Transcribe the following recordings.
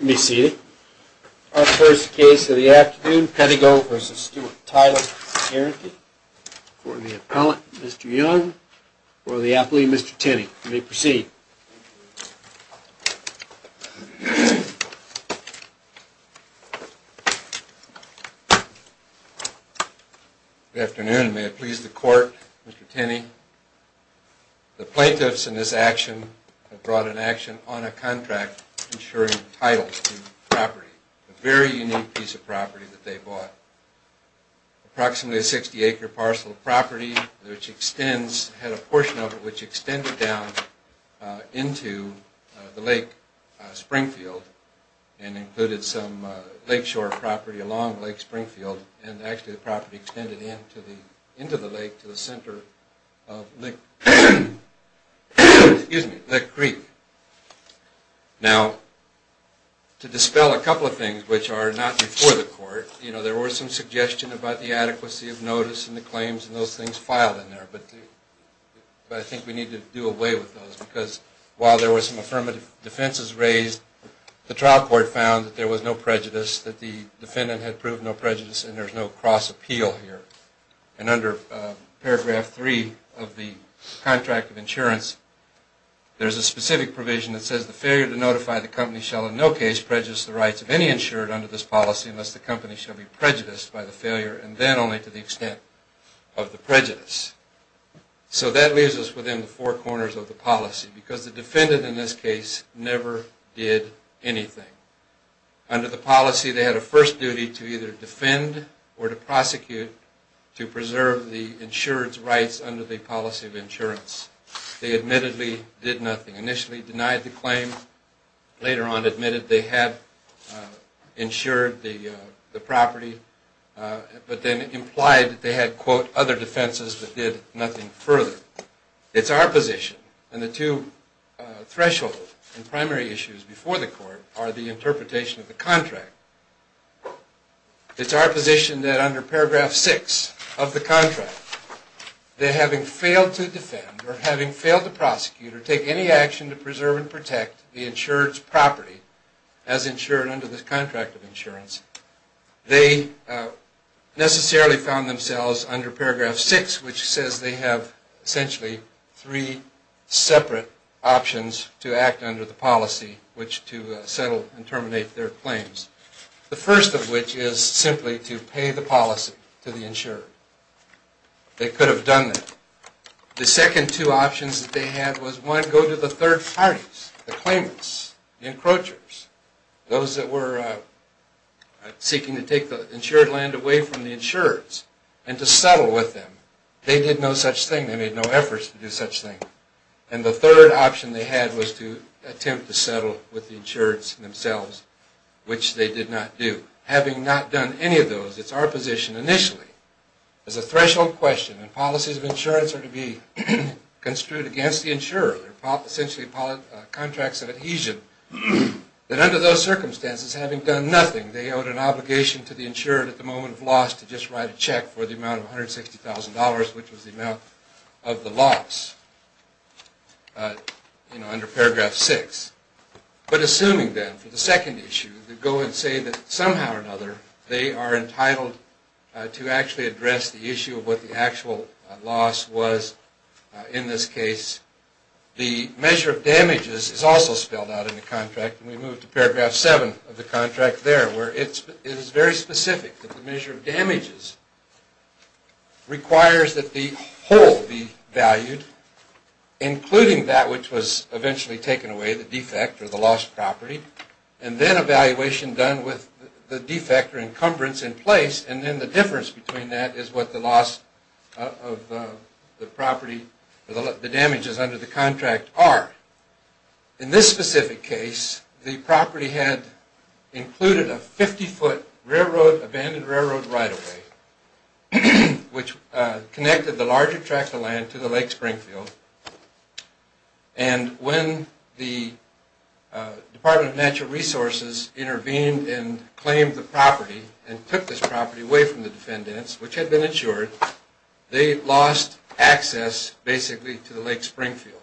You may be seated. Our first case of the afternoon, Pedigo v. Stewart Title Guaranty, for the appellant, Mr. Young, for the athlete, Mr. Tinney. You may proceed. Good afternoon. May it please the court, Mr. Tinney. The plaintiffs in this action have brought an action on a contract ensuring title to the property, a very unique piece of property that they bought. Approximately a 60-acre parcel of property which extends, had a portion of it which extended down into the Lake Springfield and included some lakeshore property along Lake Springfield. And actually the property extended into the lake to the center of Lake Creek. Now, to dispel a couple of things which are not before the court, you know, there were some suggestions about the adequacy of notice and the claims and those things filed in there. But I think we need to do away with those because while there were some affirmative defenses raised, the trial court found that there was no prejudice, that the defendant had proved no prejudice and there's no cross-appeal here. And under paragraph three of the contract of insurance, there's a specific provision that says the failure to notify the company shall in no case prejudice the rights of any insured under this policy unless the company shall be prejudiced by the failure and then only to the extent of the prejudice. So that leaves us within the four corners of the policy because the defendant in this case never did anything. Under the policy, they had a first duty to either defend or to prosecute to preserve the insurance rights under the policy of insurance. They admittedly did nothing, initially denied the claim, later on admitted they had insured the property, but then implied that they had, quote, other defenses but did nothing further. It's our position, and the two thresholds and primary issues before the court are the interpretation of the contract. It's our position that under paragraph six of the contract, that having failed to defend or having failed to prosecute or take any action to preserve and protect the insured's property as insured under the contract of insurance, they necessarily found themselves under paragraph six, which says they have essentially three separate options to act under the policy, which to settle and terminate their claims. The first of which is simply to pay the policy to the insured. They could have done that. The second two options that they had was, one, go to the third parties, the claimants, the encroachers, those that were seeking to take the insured land away from the insureds and to settle with them. They did no such thing. They made no efforts to do such thing. And the third option they had was to attempt to settle with the insureds themselves, which they did not do. Having not done any of those, it's our position initially as a threshold question and policies of insurance are to be construed against the insurer, essentially contracts of adhesion, that under those circumstances, having done nothing, they owed an obligation to the insured at the moment of loss to just write a check for the amount of $160,000, which was the amount of the loss, you know, under paragraph six. But assuming then, for the second issue, to go and say that somehow or another they are entitled to actually address the issue of what the actual loss was in this case, the measure of damages is also spelled out in the contract. And we move to paragraph seven of the contract there where it is very specific that the measure of damages requires that the whole be valued, including that which was eventually taken away, the defect or the lost property, and then evaluation done with the defect or encumbrance in place. And then the difference between that is what the loss of the property or the damages under the contract are. In this specific case, the property had included a 50-foot railroad, abandoned railroad right of way, which connected the larger tract of land to the Lake Springfield. And when the Department of Natural Resources intervened and claimed the property and took this property away from the defendants, which had been insured, they lost access basically to the Lake Springfield.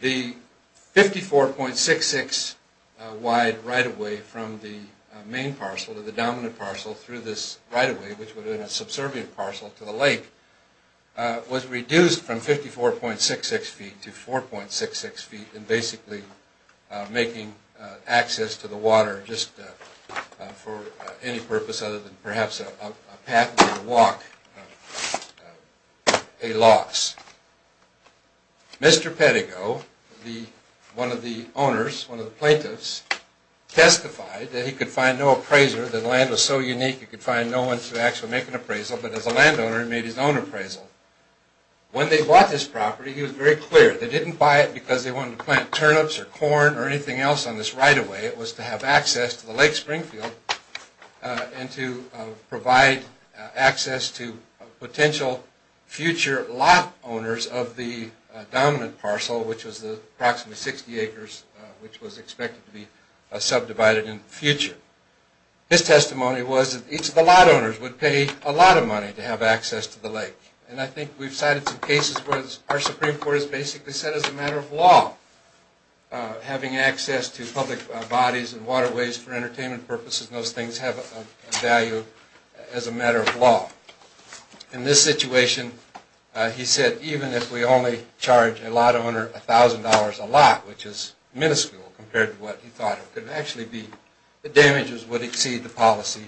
The 54.66 wide right of way from the main parcel to the dominant parcel through this right of way, which would have been a subservient parcel to the lake, was reduced from 54.66 feet to 4.66 feet and basically making access to the water just for any purpose other than perhaps a pathway or walk a loss. Mr. Pettigo, one of the owners, one of the plaintiffs, testified that he could find no appraiser, that the land was so unique he could find no one to actually make an appraisal, but as a landowner he made his own appraisal. When they bought this property, he was very clear. They didn't buy it because they wanted to plant turnips or corn or anything else on this right of way. It was to have access to the Lake Springfield and to provide access to potential future lot owners of the dominant parcel, which was approximately 60 acres, which was expected to be subdivided in the future. His testimony was that each of the lot owners would pay a lot of money to have access to the lake. And I think we've cited some cases where our Supreme Court has basically said as a matter of law, having access to public bodies and waterways for entertainment purposes and those things have a value as a matter of law. In this situation, he said even if we only charge a lot owner $1,000 a lot, which is minuscule compared to what he thought it could actually be, the damages would exceed the policy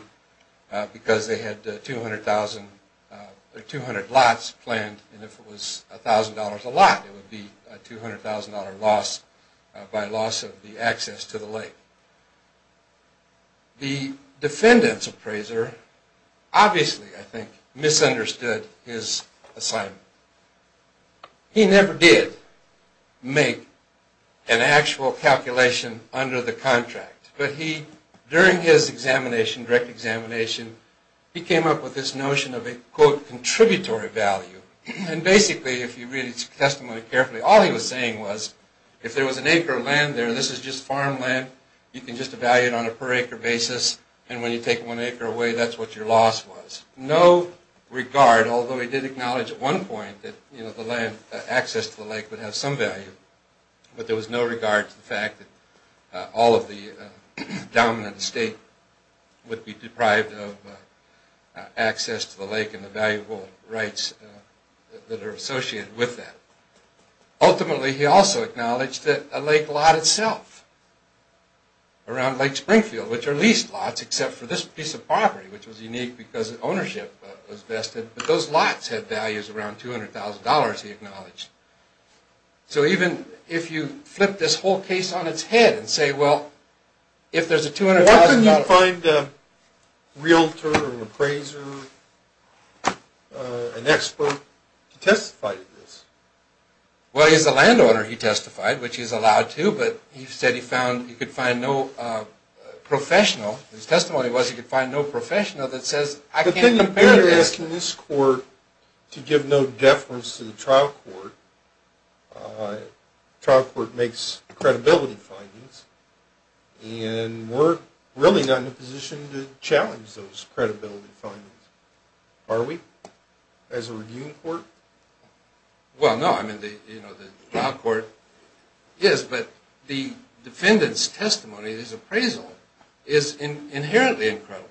because they had 200 lots planned and if it was $1,000 a lot, it would be a $200,000 loss by loss of the access to the lake. The defendant's appraiser obviously, I think, misunderstood his assignment. He never did make an actual calculation under the contract, but during his direct examination, he came up with this notion of a quote, contributory value. And basically, if you read his testimony carefully, all he was saying was if there was an acre of land there, this is just farmland, you can just evaluate on a per acre basis and when you take one acre away, that's what your loss was. There was no regard, although he did acknowledge at one point that access to the lake would have some value, but there was no regard to the fact that all of the dominant estate would be deprived of access to the lake and the valuable rights that are associated with that. Ultimately, he also acknowledged that a lake lot itself, around Lake Springfield, which are leased lots except for this piece of property, which was unique because ownership was vested, but those lots had values around $200,000, he acknowledged. So even if you flip this whole case on its head and say, well, if there's a $200,000... Why couldn't you find a realtor or an appraiser, an expert to testify to this? Well, he's a landowner, he testified, which he's allowed to, but he said he found, he could find no professional. His testimony was he could find no professional that says, I can't compare to this. We're asking this court to give no deference to the trial court. The trial court makes credibility findings, and we're really not in a position to challenge those credibility findings, are we, as a reviewing court? Well, no, I mean, the trial court is, but the defendant's testimony, his appraisal, is inherently incredible.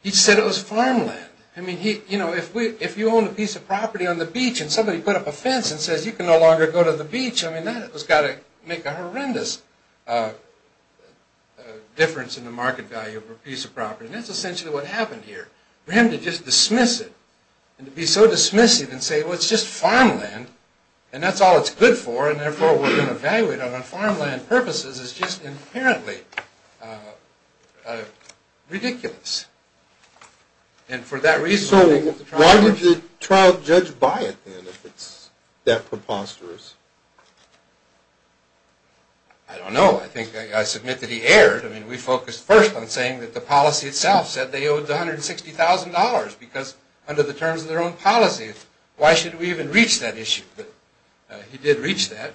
He said it was farmland. I mean, if you own a piece of property on the beach and somebody put up a fence and says, you can no longer go to the beach, I mean, that's got to make a horrendous difference in the market value of a piece of property. And that's essentially what happened here. For him to just dismiss it, and to be so dismissive and say, well, it's just farmland, and that's all it's good for, and therefore we're going to value it on farmland purposes, is just inherently ridiculous. So, why did the trial judge buy it, then, if it's that preposterous? I don't know. I think I submit that he erred. I mean, we focused first on saying that the policy itself said they owed $160,000, because under the terms of their own policy, why should we even reach that issue? But he did reach that,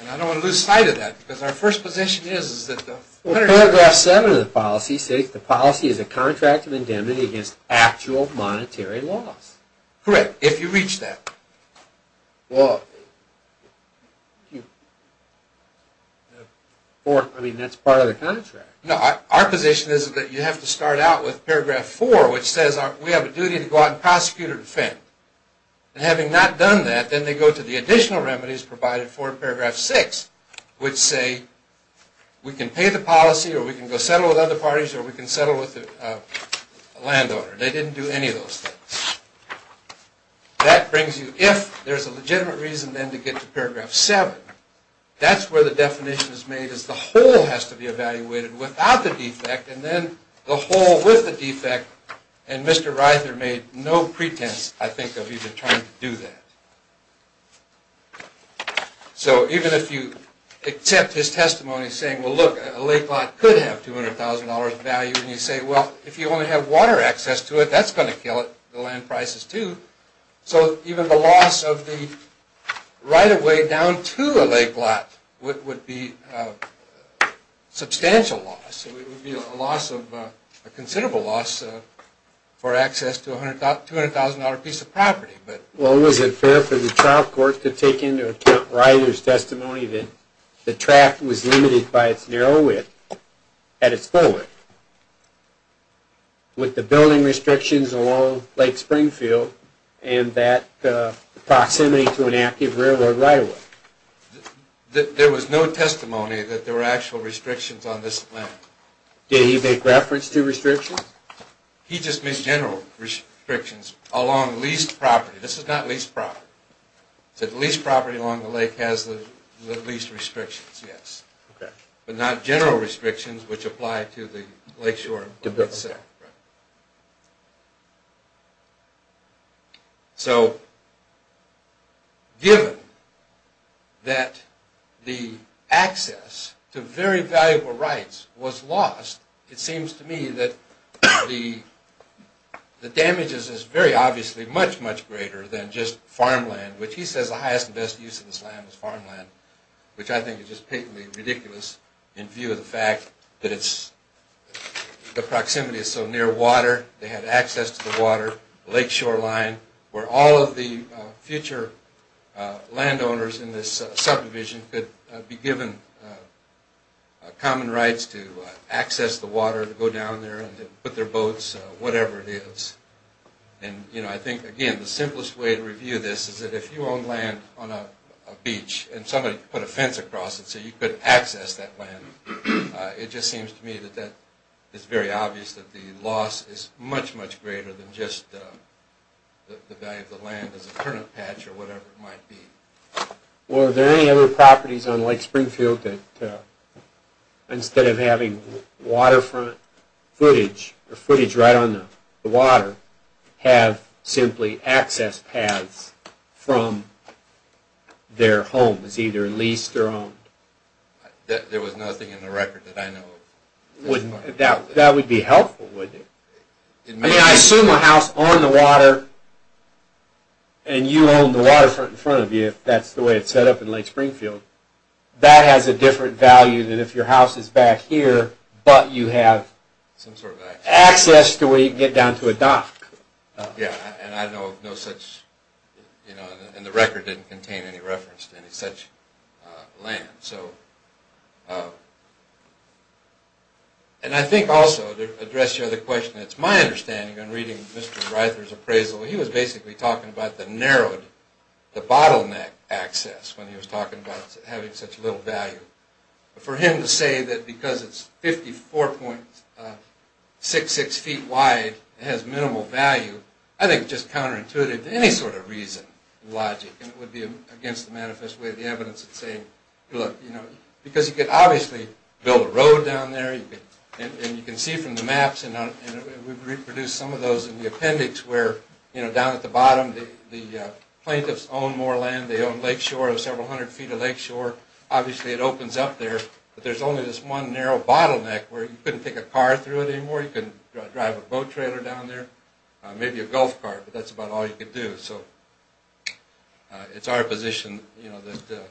and I don't want to lose sight of that, because our first position is that the… Well, paragraph 7 of the policy states the policy is a contract of indemnity against actual monetary loss. Correct, if you reach that. Well, I mean, that's part of the contract. No, our position is that you have to start out with paragraph 4, which says we have a duty to go out and prosecute or defend. And having not done that, then they go to the additional remedies provided for in paragraph 6, which say we can pay the policy, or we can go settle with other parties, or we can settle with a landowner. They didn't do any of those things. That brings you, if there's a legitimate reason, then, to get to paragraph 7. That's where the definition is made, is the whole has to be evaluated without the defect, and then the whole with the defect. And Mr. Ryther made no pretense, I think, of even trying to do that. So, even if you accept his testimony saying, well, look, a lake lot could have $200,000 value, and you say, well, if you only have water access to it, that's going to kill it, the land prices, too. So, even the loss of the right-of-way down to a lake lot would be a substantial loss. It would be a loss of… a considerable loss for access to a $200,000 piece of property. Well, was it fair for the trial court to take into account Ryther's testimony that the track was limited by its narrow width at its full width, with the building restrictions along Lake Springfield and that proximity to an active railroad right-of-way? There was no testimony that there were actual restrictions on this land. Did he make reference to restrictions? He just made general restrictions along leased property. This is not leased property. He said the leased property along the lake has the leased restrictions, yes, but not general restrictions which apply to the lakeshore itself. Right. So, given that the access to very valuable rights was lost, it seems to me that the damage is very obviously much, much greater than just farmland, which he says the highest and best use of this land is farmland, which I think is just patently ridiculous in view of the fact that it's… the proximity is so near water, they had access to the water, lakeshore line, where all of the future landowners in this subdivision could be given common rights to access the water, to go down there and put their boats, whatever it is. And, you know, I think, again, the simplest way to review this is that if you own land on a beach and somebody put a fence across it so you could access that land, it just seems to me that that is very obvious that the loss is much, much greater than just the value of the land as a turnip patch or whatever it might be. Well, are there any other properties on Lake Springfield that, instead of having waterfront footage or footage right on the water, have simply access paths from their homes, either leased or owned? There was nothing in the record that I know of. That would be helpful, wouldn't it? I mean, I assume a house on the water, and you own the waterfront in front of you, if that's the way it's set up in Lake Springfield, that has a different value than if your house is back here, but you have access to where you can get down to a dock. Yeah, and I know of no such, you know, and the record didn't contain any reference to any such land. So, and I think also, to address your other question, it's my understanding in reading Mr. Reither's appraisal, he was basically talking about the narrowed, the bottleneck access when he was talking about having such little value. For him to say that because it's 54.66 feet wide, it has minimal value, I think it's just counterintuitive to any sort of reason, logic, and it would be against the manifest way of the evidence in saying, look, you know, because you could obviously build a road down there, and you can see from the maps, and we've reproduced some of those in the appendix where, you know, down at the bottom, the plaintiffs own more land, they own lakeshore, several hundred feet of lakeshore. Obviously, it opens up there, but there's only this one narrow bottleneck where you couldn't take a car through it anymore, you couldn't drive a boat trailer down there, maybe a golf cart, but that's about all you could do. So, it's our position, you know, that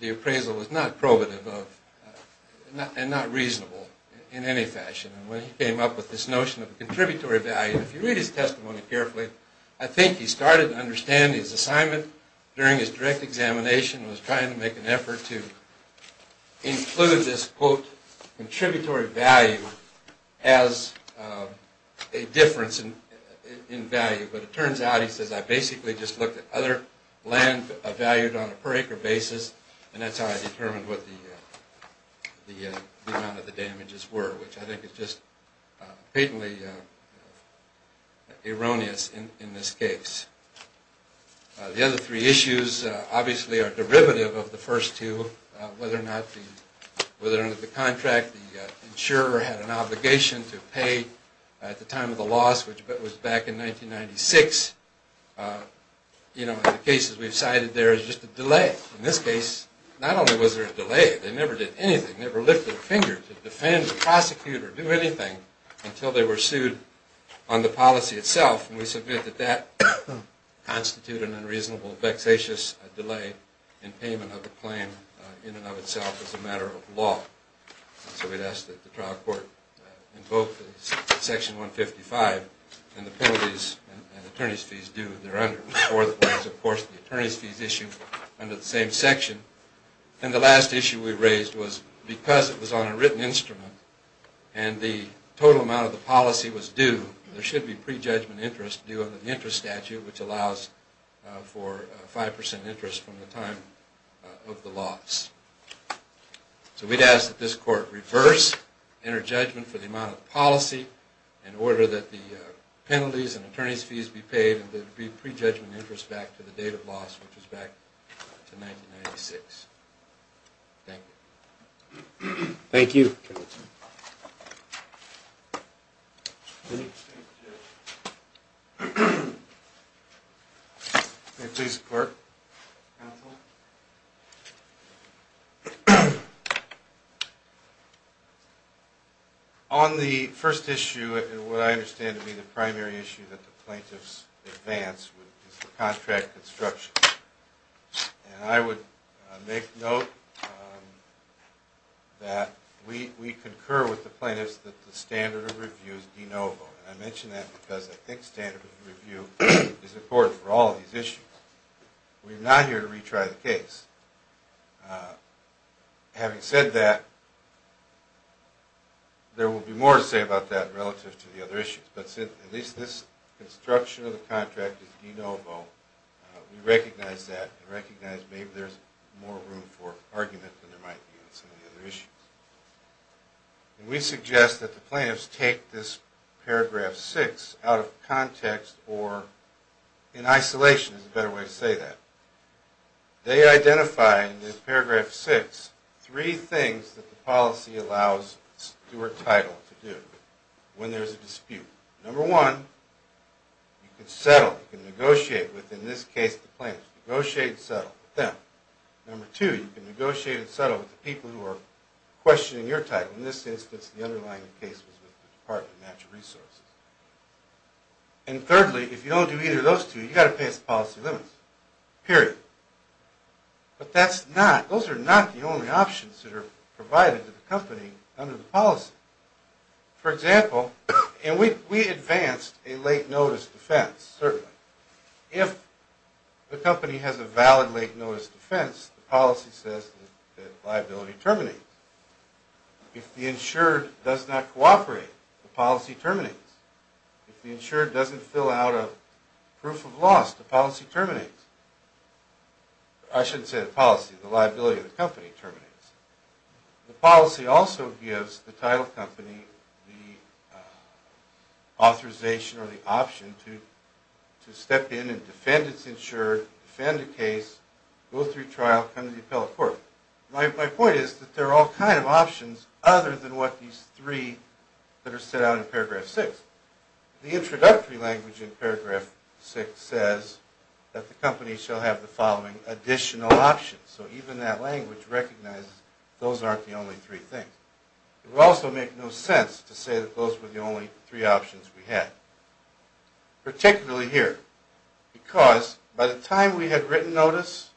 the appraisal was not probative of, and not reasonable in any fashion. When he came up with this notion of contributory value, if you read his testimony carefully, I think he started to understand his assignment during his direct examination was trying to make an effort to include this, quote, contributory value as a difference in value. But it turns out, he says, I basically just looked at other land valued on a per acre basis, and that's how I determined what the amount of the damages were, which I think is just patently erroneous in this case. The other three issues obviously are derivative of the first two, whether or not the contract, the insurer had an obligation to pay at the time of the loss, which was back in 1996, you know, the cases we've cited there is just a delay. In this case, not only was there a delay, they never did anything, never lifted a finger to defend, prosecute, or do anything until they were sued on the policy itself, and we submit that that constituted an unreasonable, vexatious delay in payment of the claim in and of itself as a matter of law. So we'd ask that the trial court invoke Section 155, and the penalties and attorney's fees due if they're under it. Fourth was, of course, the attorney's fees issue under the same section. And the last issue we raised was because it was on a written instrument, and the total amount of the policy was due, there should be prejudgment interest due under the interest statute, which allows for 5% interest from the time of the loss. So we'd ask that this court reverse, enter judgment for the amount of the policy, in order that the penalties and attorney's fees be paid, and there'd be prejudgment interest back to the date of loss, which was back to 1996. Thank you. Thank you. Thank you. Please, clerk. Counselor? Having said that, there will be more to say about that relative to the other issues, but at least this construction of the contract is de novo. We recognize that and recognize maybe there's more room for argument than there might be on some of the other issues. And we suggest that the plaintiffs take this paragraph 6 out of context, or in isolation is a better way to say that. They identify in this paragraph 6 three things that the policy allows Stewart Title to do when there's a dispute. Number one, you can settle, you can negotiate with, in this case, the plaintiffs. Negotiate and settle with them. Number two, you can negotiate and settle with the people who are questioning your title. In this instance, the underlying case was with the Department of Natural Resources. And thirdly, if you don't do either of those two, you've got to pass policy limits, period. But that's not, those are not the only options that are provided to the company under the policy. For example, and we advanced a late notice defense, certainly. If the company has a valid late notice defense, the policy says that liability terminates. If the insured does not cooperate, the policy terminates. If the insured doesn't fill out a proof of loss, the policy terminates. I shouldn't say the policy, the liability of the company terminates. The policy also gives the title company the authorization or the option to step in and defend its insured, defend a case, go through trial, come to the appellate court. My point is that there are all kinds of options other than what these three that are set out in paragraph 6. The introductory language in paragraph 6 says that the company shall have the following additional options. So even that language recognizes those aren't the only three things. It would also make no sense to say that those were the only three options we had, particularly here. Because by the time we had written notice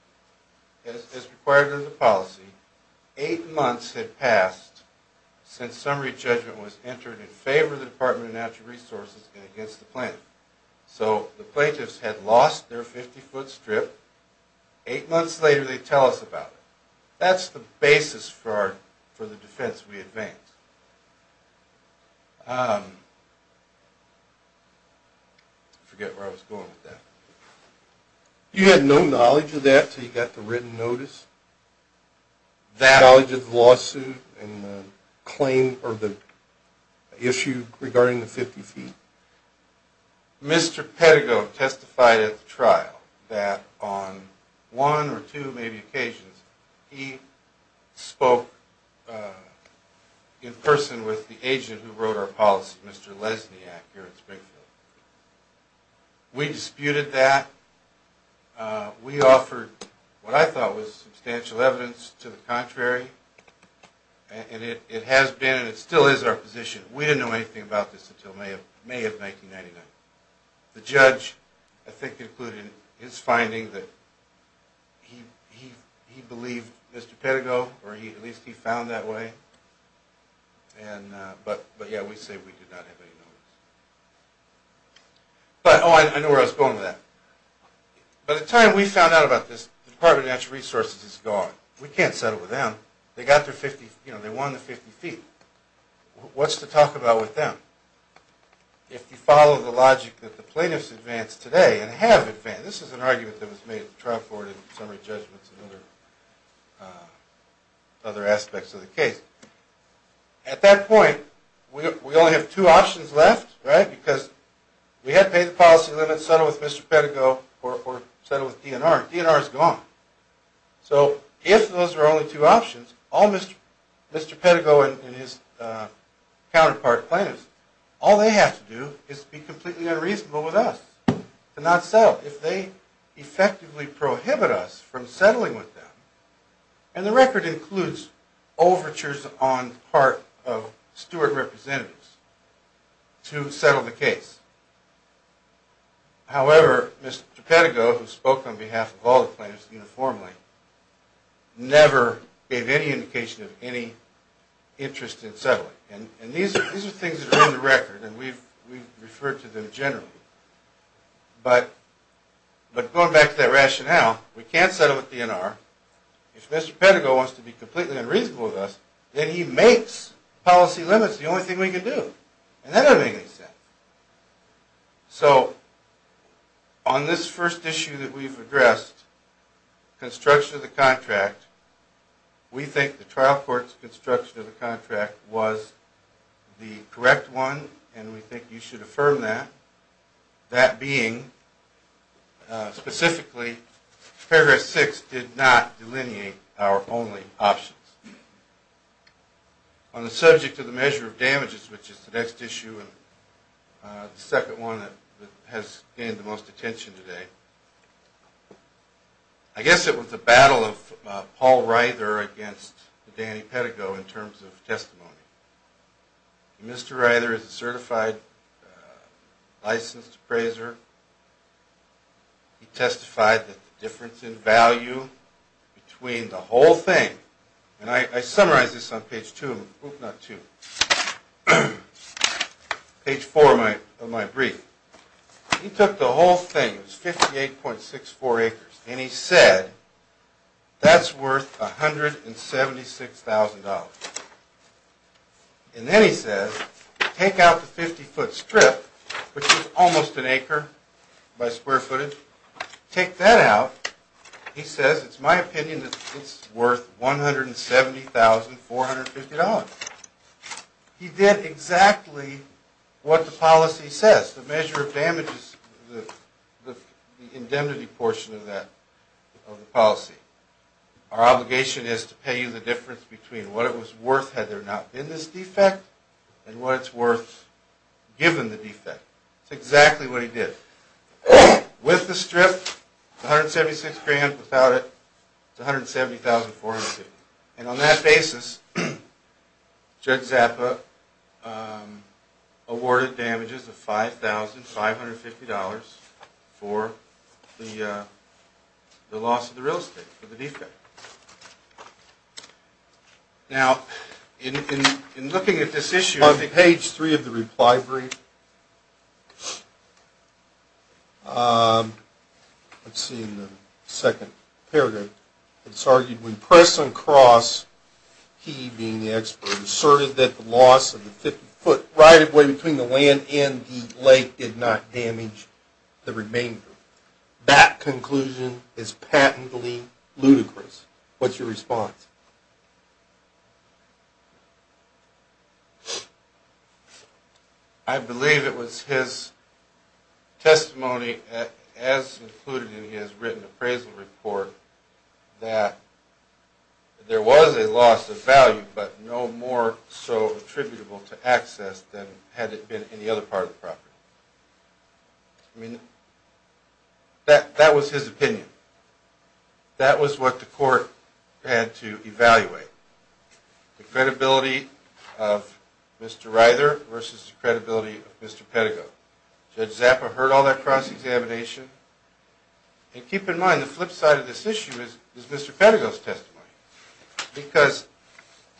as required under the policy, eight months had passed since summary judgment was entered in favor of the Department of Natural Resources and against the plaintiff. So the plaintiffs had lost their 50-foot strip. Eight months later, they tell us about it. That's the basis for the defense we advanced. I forget where I was going with that. You had no knowledge of that until you got the written notice? No knowledge of the lawsuit and the claim or the issue regarding the 50 feet? Mr. Pedigo testified at the trial that on one or two maybe occasions, he spoke in person with the agent who wrote our policy, Mr. Lesniak, here in Springfield. We disputed that. We offered what I thought was substantial evidence to the contrary. And it has been and it still is our position. We didn't know anything about this until May of 1999. The judge, I think, included in his finding that he believed Mr. Pedigo, or at least he found that way. But yeah, we say we did not have any knowledge. Oh, I know where I was going with that. By the time we found out about this, the Department of Natural Resources is gone. We can't settle with them. They won the 50 feet. What's to talk about with them? If you follow the logic that the plaintiffs advanced today and have advanced. This is an argument that was made at the trial court in summary judgments and other aspects of the case. At that point, we only have two options left, right? Because we had paid the policy limits, settled with Mr. Pedigo, or settled with DNR. DNR is gone. So if those are only two options, all Mr. Pedigo and his counterpart plaintiffs, all they have to do is be completely unreasonable with us and not settle. If they effectively prohibit us from settling with them, and the record includes overtures on the part of steward representatives to settle the case. However, Mr. Pedigo, who spoke on behalf of all the plaintiffs uniformly, never gave any indication of any interest in settling. And these are things that are in the record, and we've referred to them generally. But going back to that rationale, we can't settle with DNR. If Mr. Pedigo wants to be completely unreasonable with us, then he makes policy limits the only thing we can do. And that doesn't make any sense. So on this first issue that we've addressed, construction of the contract, we think the trial court's construction of the contract was the correct one, and we think you should affirm that. That being, specifically, paragraph 6 did not delineate our only options. On the subject of the measure of damages, which is the next issue, and the second one that has gained the most attention today, I guess it was the battle of Paul Reither against Danny Pedigo in terms of testimony. Mr. Reither is a certified licensed appraiser. He testified that the difference in value between the whole thing, and I summarized this on page 2 of my brief, he took the whole thing, it was 58.64 acres, and he said that's worth $176,000. And then he says, take out the 50-foot strip, which is almost an acre by square footage, take that out, he says, it's my opinion that it's worth $170,450. He did exactly what the policy says. The measure of damage is the indemnity portion of the policy. Our obligation is to pay you the difference between what it was worth had there not been this defect, and what it's worth given the defect. That's exactly what he did. With the strip, it's $176,000. Without it, it's $170,450. And on that basis, Judd Zappa awarded damages of $5,550 for the loss of the real estate, for the defect. Now, in looking at this issue... On page 3 of the reply brief, let's see in the second paragraph, it's argued, when pressed on cross, he, being the expert, asserted that the loss of the 50-foot right-of-way between the land and the lake did not damage the remainder. That conclusion is patently ludicrous. What's your response? I believe it was his testimony, as included in his written appraisal report, that there was a loss of value, but no more so attributable to access than had it been in the other part of the property. I mean, that was his opinion. That was what the court had to evaluate. The credibility of Mr. Ryder versus the credibility of Mr. Pettigrew. Judd Zappa heard all that cross-examination. And keep in mind, the flip side of this issue is Mr. Pettigrew's testimony. Because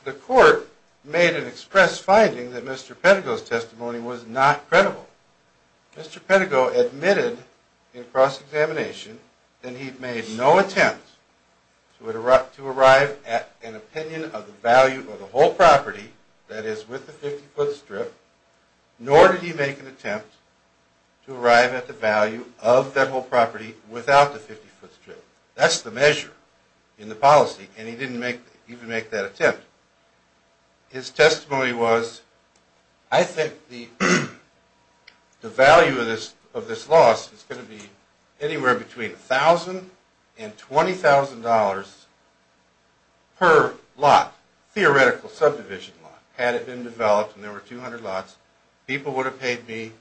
the court made an express finding that Mr. Pettigrew's testimony was not credible. Mr. Pettigrew admitted in cross-examination that he made no attempt to arrive at an opinion of the value of the whole property, that is, with the 50-foot strip, nor did he make an attempt to arrive at the value of that whole property without the 50-foot strip. That's the measure in the policy, and he didn't even make that attempt. His testimony was, I think the value of this loss is going to be anywhere between $1,000 and $20,000 per lot, theoretical subdivision lot. Had it been developed and there were 200 lots, people would have paid me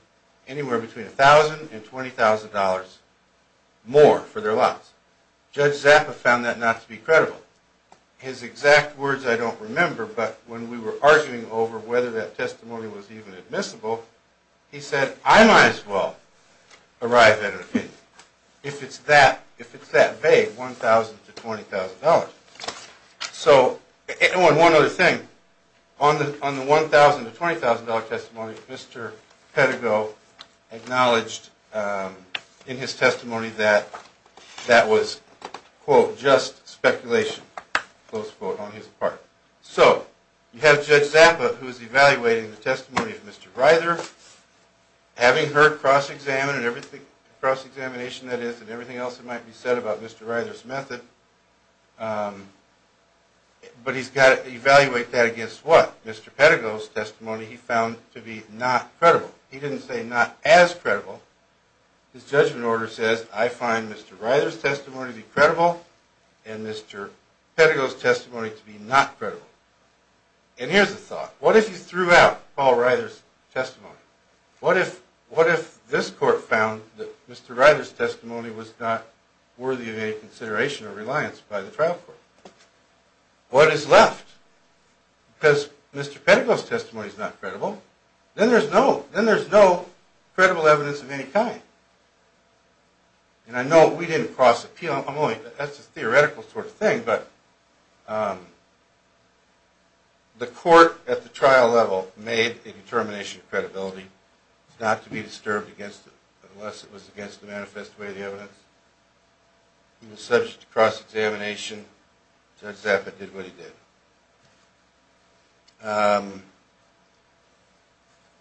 anywhere between $1,000 and $20,000 more for their lots. Judge Zappa found that not to be credible. His exact words I don't remember, but when we were arguing over whether that testimony was even admissible, he said, I might as well arrive at an opinion if it's that vague, $1,000 to $20,000. One other thing, on the $1,000 to $20,000 testimony, Mr. Pettigrew acknowledged in his testimony that that was, quote, just speculation, close quote, on his part. So, you have Judge Zappa, who is evaluating the testimony of Mr. Ryder, having heard cross-examination, that is, and everything else that might be said about Mr. Ryder's method, but he's got to evaluate that against what? Mr. Pettigrew's testimony he found to be not credible. He didn't say not as credible. His judgment order says, I find Mr. Ryder's testimony to be credible and Mr. Pettigrew's testimony to be not credible. And here's the thought. What if he threw out Paul Ryder's testimony? What if this court found that Mr. Ryder's testimony was not worthy of any consideration or reliance by the trial court? What is left? Because Mr. Pettigrew's testimony is not credible. Then there's no credible evidence of any kind. And I know we didn't cross-appeal. That's a theoretical sort of thing, but the court at the trial level made a determination of credibility not to be disturbed unless it was against the manifest way of the evidence. He was subject to cross-examination. Judge Zappa did what he did.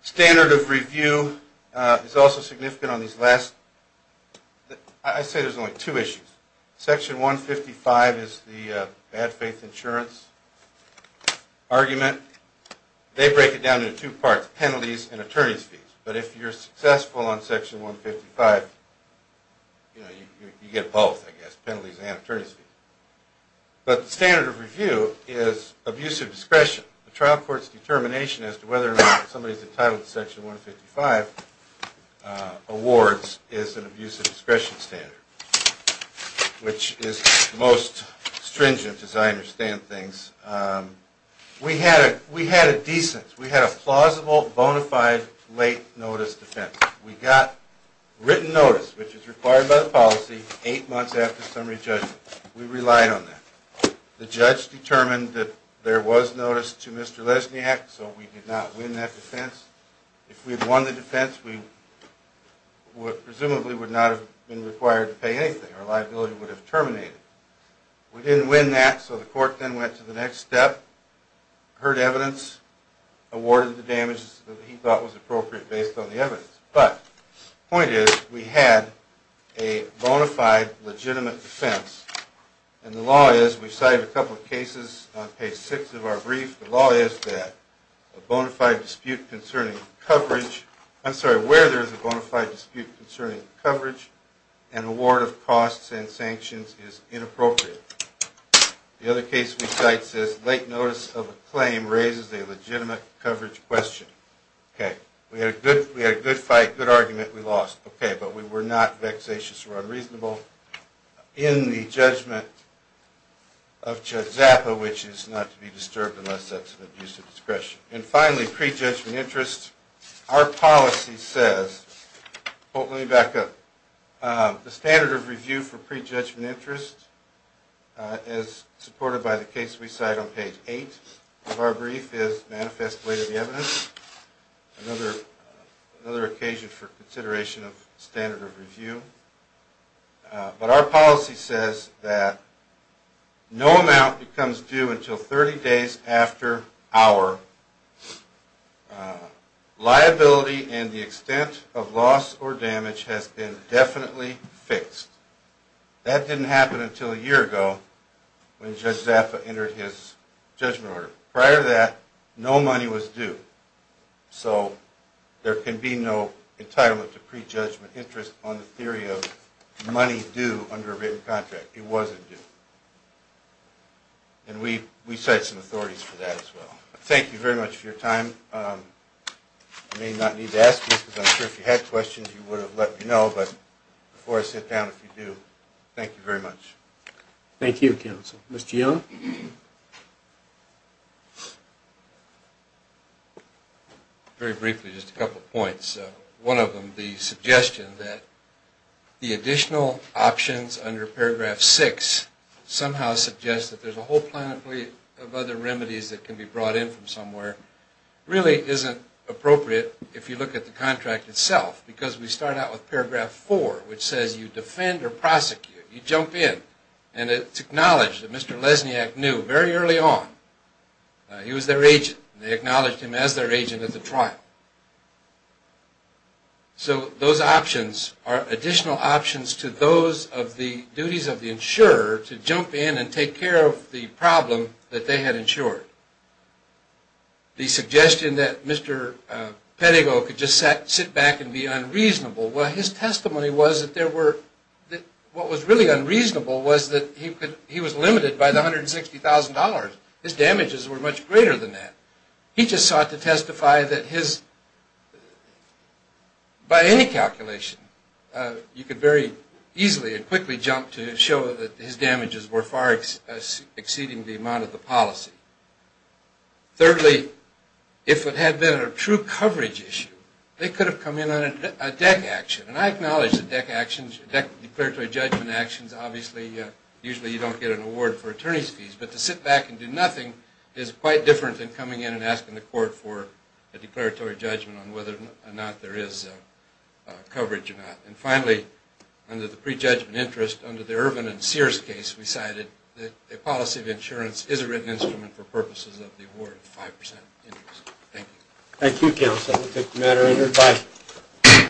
Standard of review is also significant on these last – I say there's only two issues. Section 155 is the bad faith insurance argument. They break it down into two parts, penalties and attorney's fees. But if you're successful on Section 155, you get both, I guess, penalties and attorney's fees. But the standard of review is abuse of discretion. The trial court's determination as to whether or not somebody's entitled to Section 155 awards is an abuse of discretion standard, which is the most stringent, as I understand things. We had a decent, we had a plausible, bona fide late notice defense. We got written notice, which is required by the policy, eight months after summary judgment. We relied on that. The judge determined that there was notice to Mr. Lesniak, so we did not win that defense. If we had won the defense, we presumably would not have been required to pay anything. Our liability would have terminated. We didn't win that, so the court then went to the next step, heard evidence, awarded the damages that he thought was appropriate based on the evidence. But the point is, we had a bona fide legitimate defense. And the law is, we cited a couple of cases on page six of our brief. The law is that a bona fide dispute concerning coverage, I'm sorry, where there's a bona fide dispute concerning coverage, an award of costs and sanctions is inappropriate. The other case we cite says late notice of a claim raises a legitimate coverage question. Okay, we had a good fight, good argument, we lost. Okay, but we were not vexatious or unreasonable. In the judgment of Judge Zappa, which is not to be disturbed unless that's an abuse of discretion. And finally, pre-judgment interest. Our policy says, let me back up. The standard of review for pre-judgment interest, as supported by the case we cite on page eight of our brief, is manifest belated evidence. Another occasion for consideration of standard of review. But our policy says that no amount becomes due until 30 days after our liability and the extent of loss or damage has been definitely fixed. That didn't happen until a year ago when Judge Zappa entered his judgment order. Prior to that, no money was due. So there can be no entitlement to pre-judgment interest on the theory of money due under a written contract. It wasn't due. And we cite some authorities for that as well. Thank you very much for your time. You may not need to ask me, because I'm sure if you had questions you would have let me know. But before I sit down, if you do, thank you very much. Thank you, counsel. Mr. Young? Very briefly, just a couple points. One of them, the suggestion that the additional options under paragraph six somehow suggests that there's a whole planet of other remedies that can be brought in from somewhere, really isn't appropriate if you look at the contract itself. Because we start out with paragraph four, which says you defend or prosecute. You jump in. And it's acknowledged that Mr. Lesniak knew very early on he was their agent. They acknowledged him as their agent at the trial. So those options are additional options to those of the duties of the insurer to jump in and take care of the problem that they had insured. The suggestion that Mr. Pettigrew could just sit back and be unreasonable, well, his testimony was that what was really unreasonable was that he was limited by the $160,000. His damages were much greater than that. He just sought to testify that by any calculation you could very easily and quickly jump to show that his damages were far exceeding the amount of the policy. Thirdly, if it had been a true coverage issue, they could have come in on a DEC action. And I acknowledge that DEC declaratory judgment actions, obviously, usually you don't get an award for attorney's fees. But to sit back and do nothing is quite different than coming in and asking the court for a declaratory judgment on whether or not there is coverage or not. And finally, under the prejudgment interest, under the Ervin and Sears case, we cited that a policy of insurance is a written instrument for purposes of the award of 5% interest. Thank you. Thank you, counsel. We'll take the matter under advice.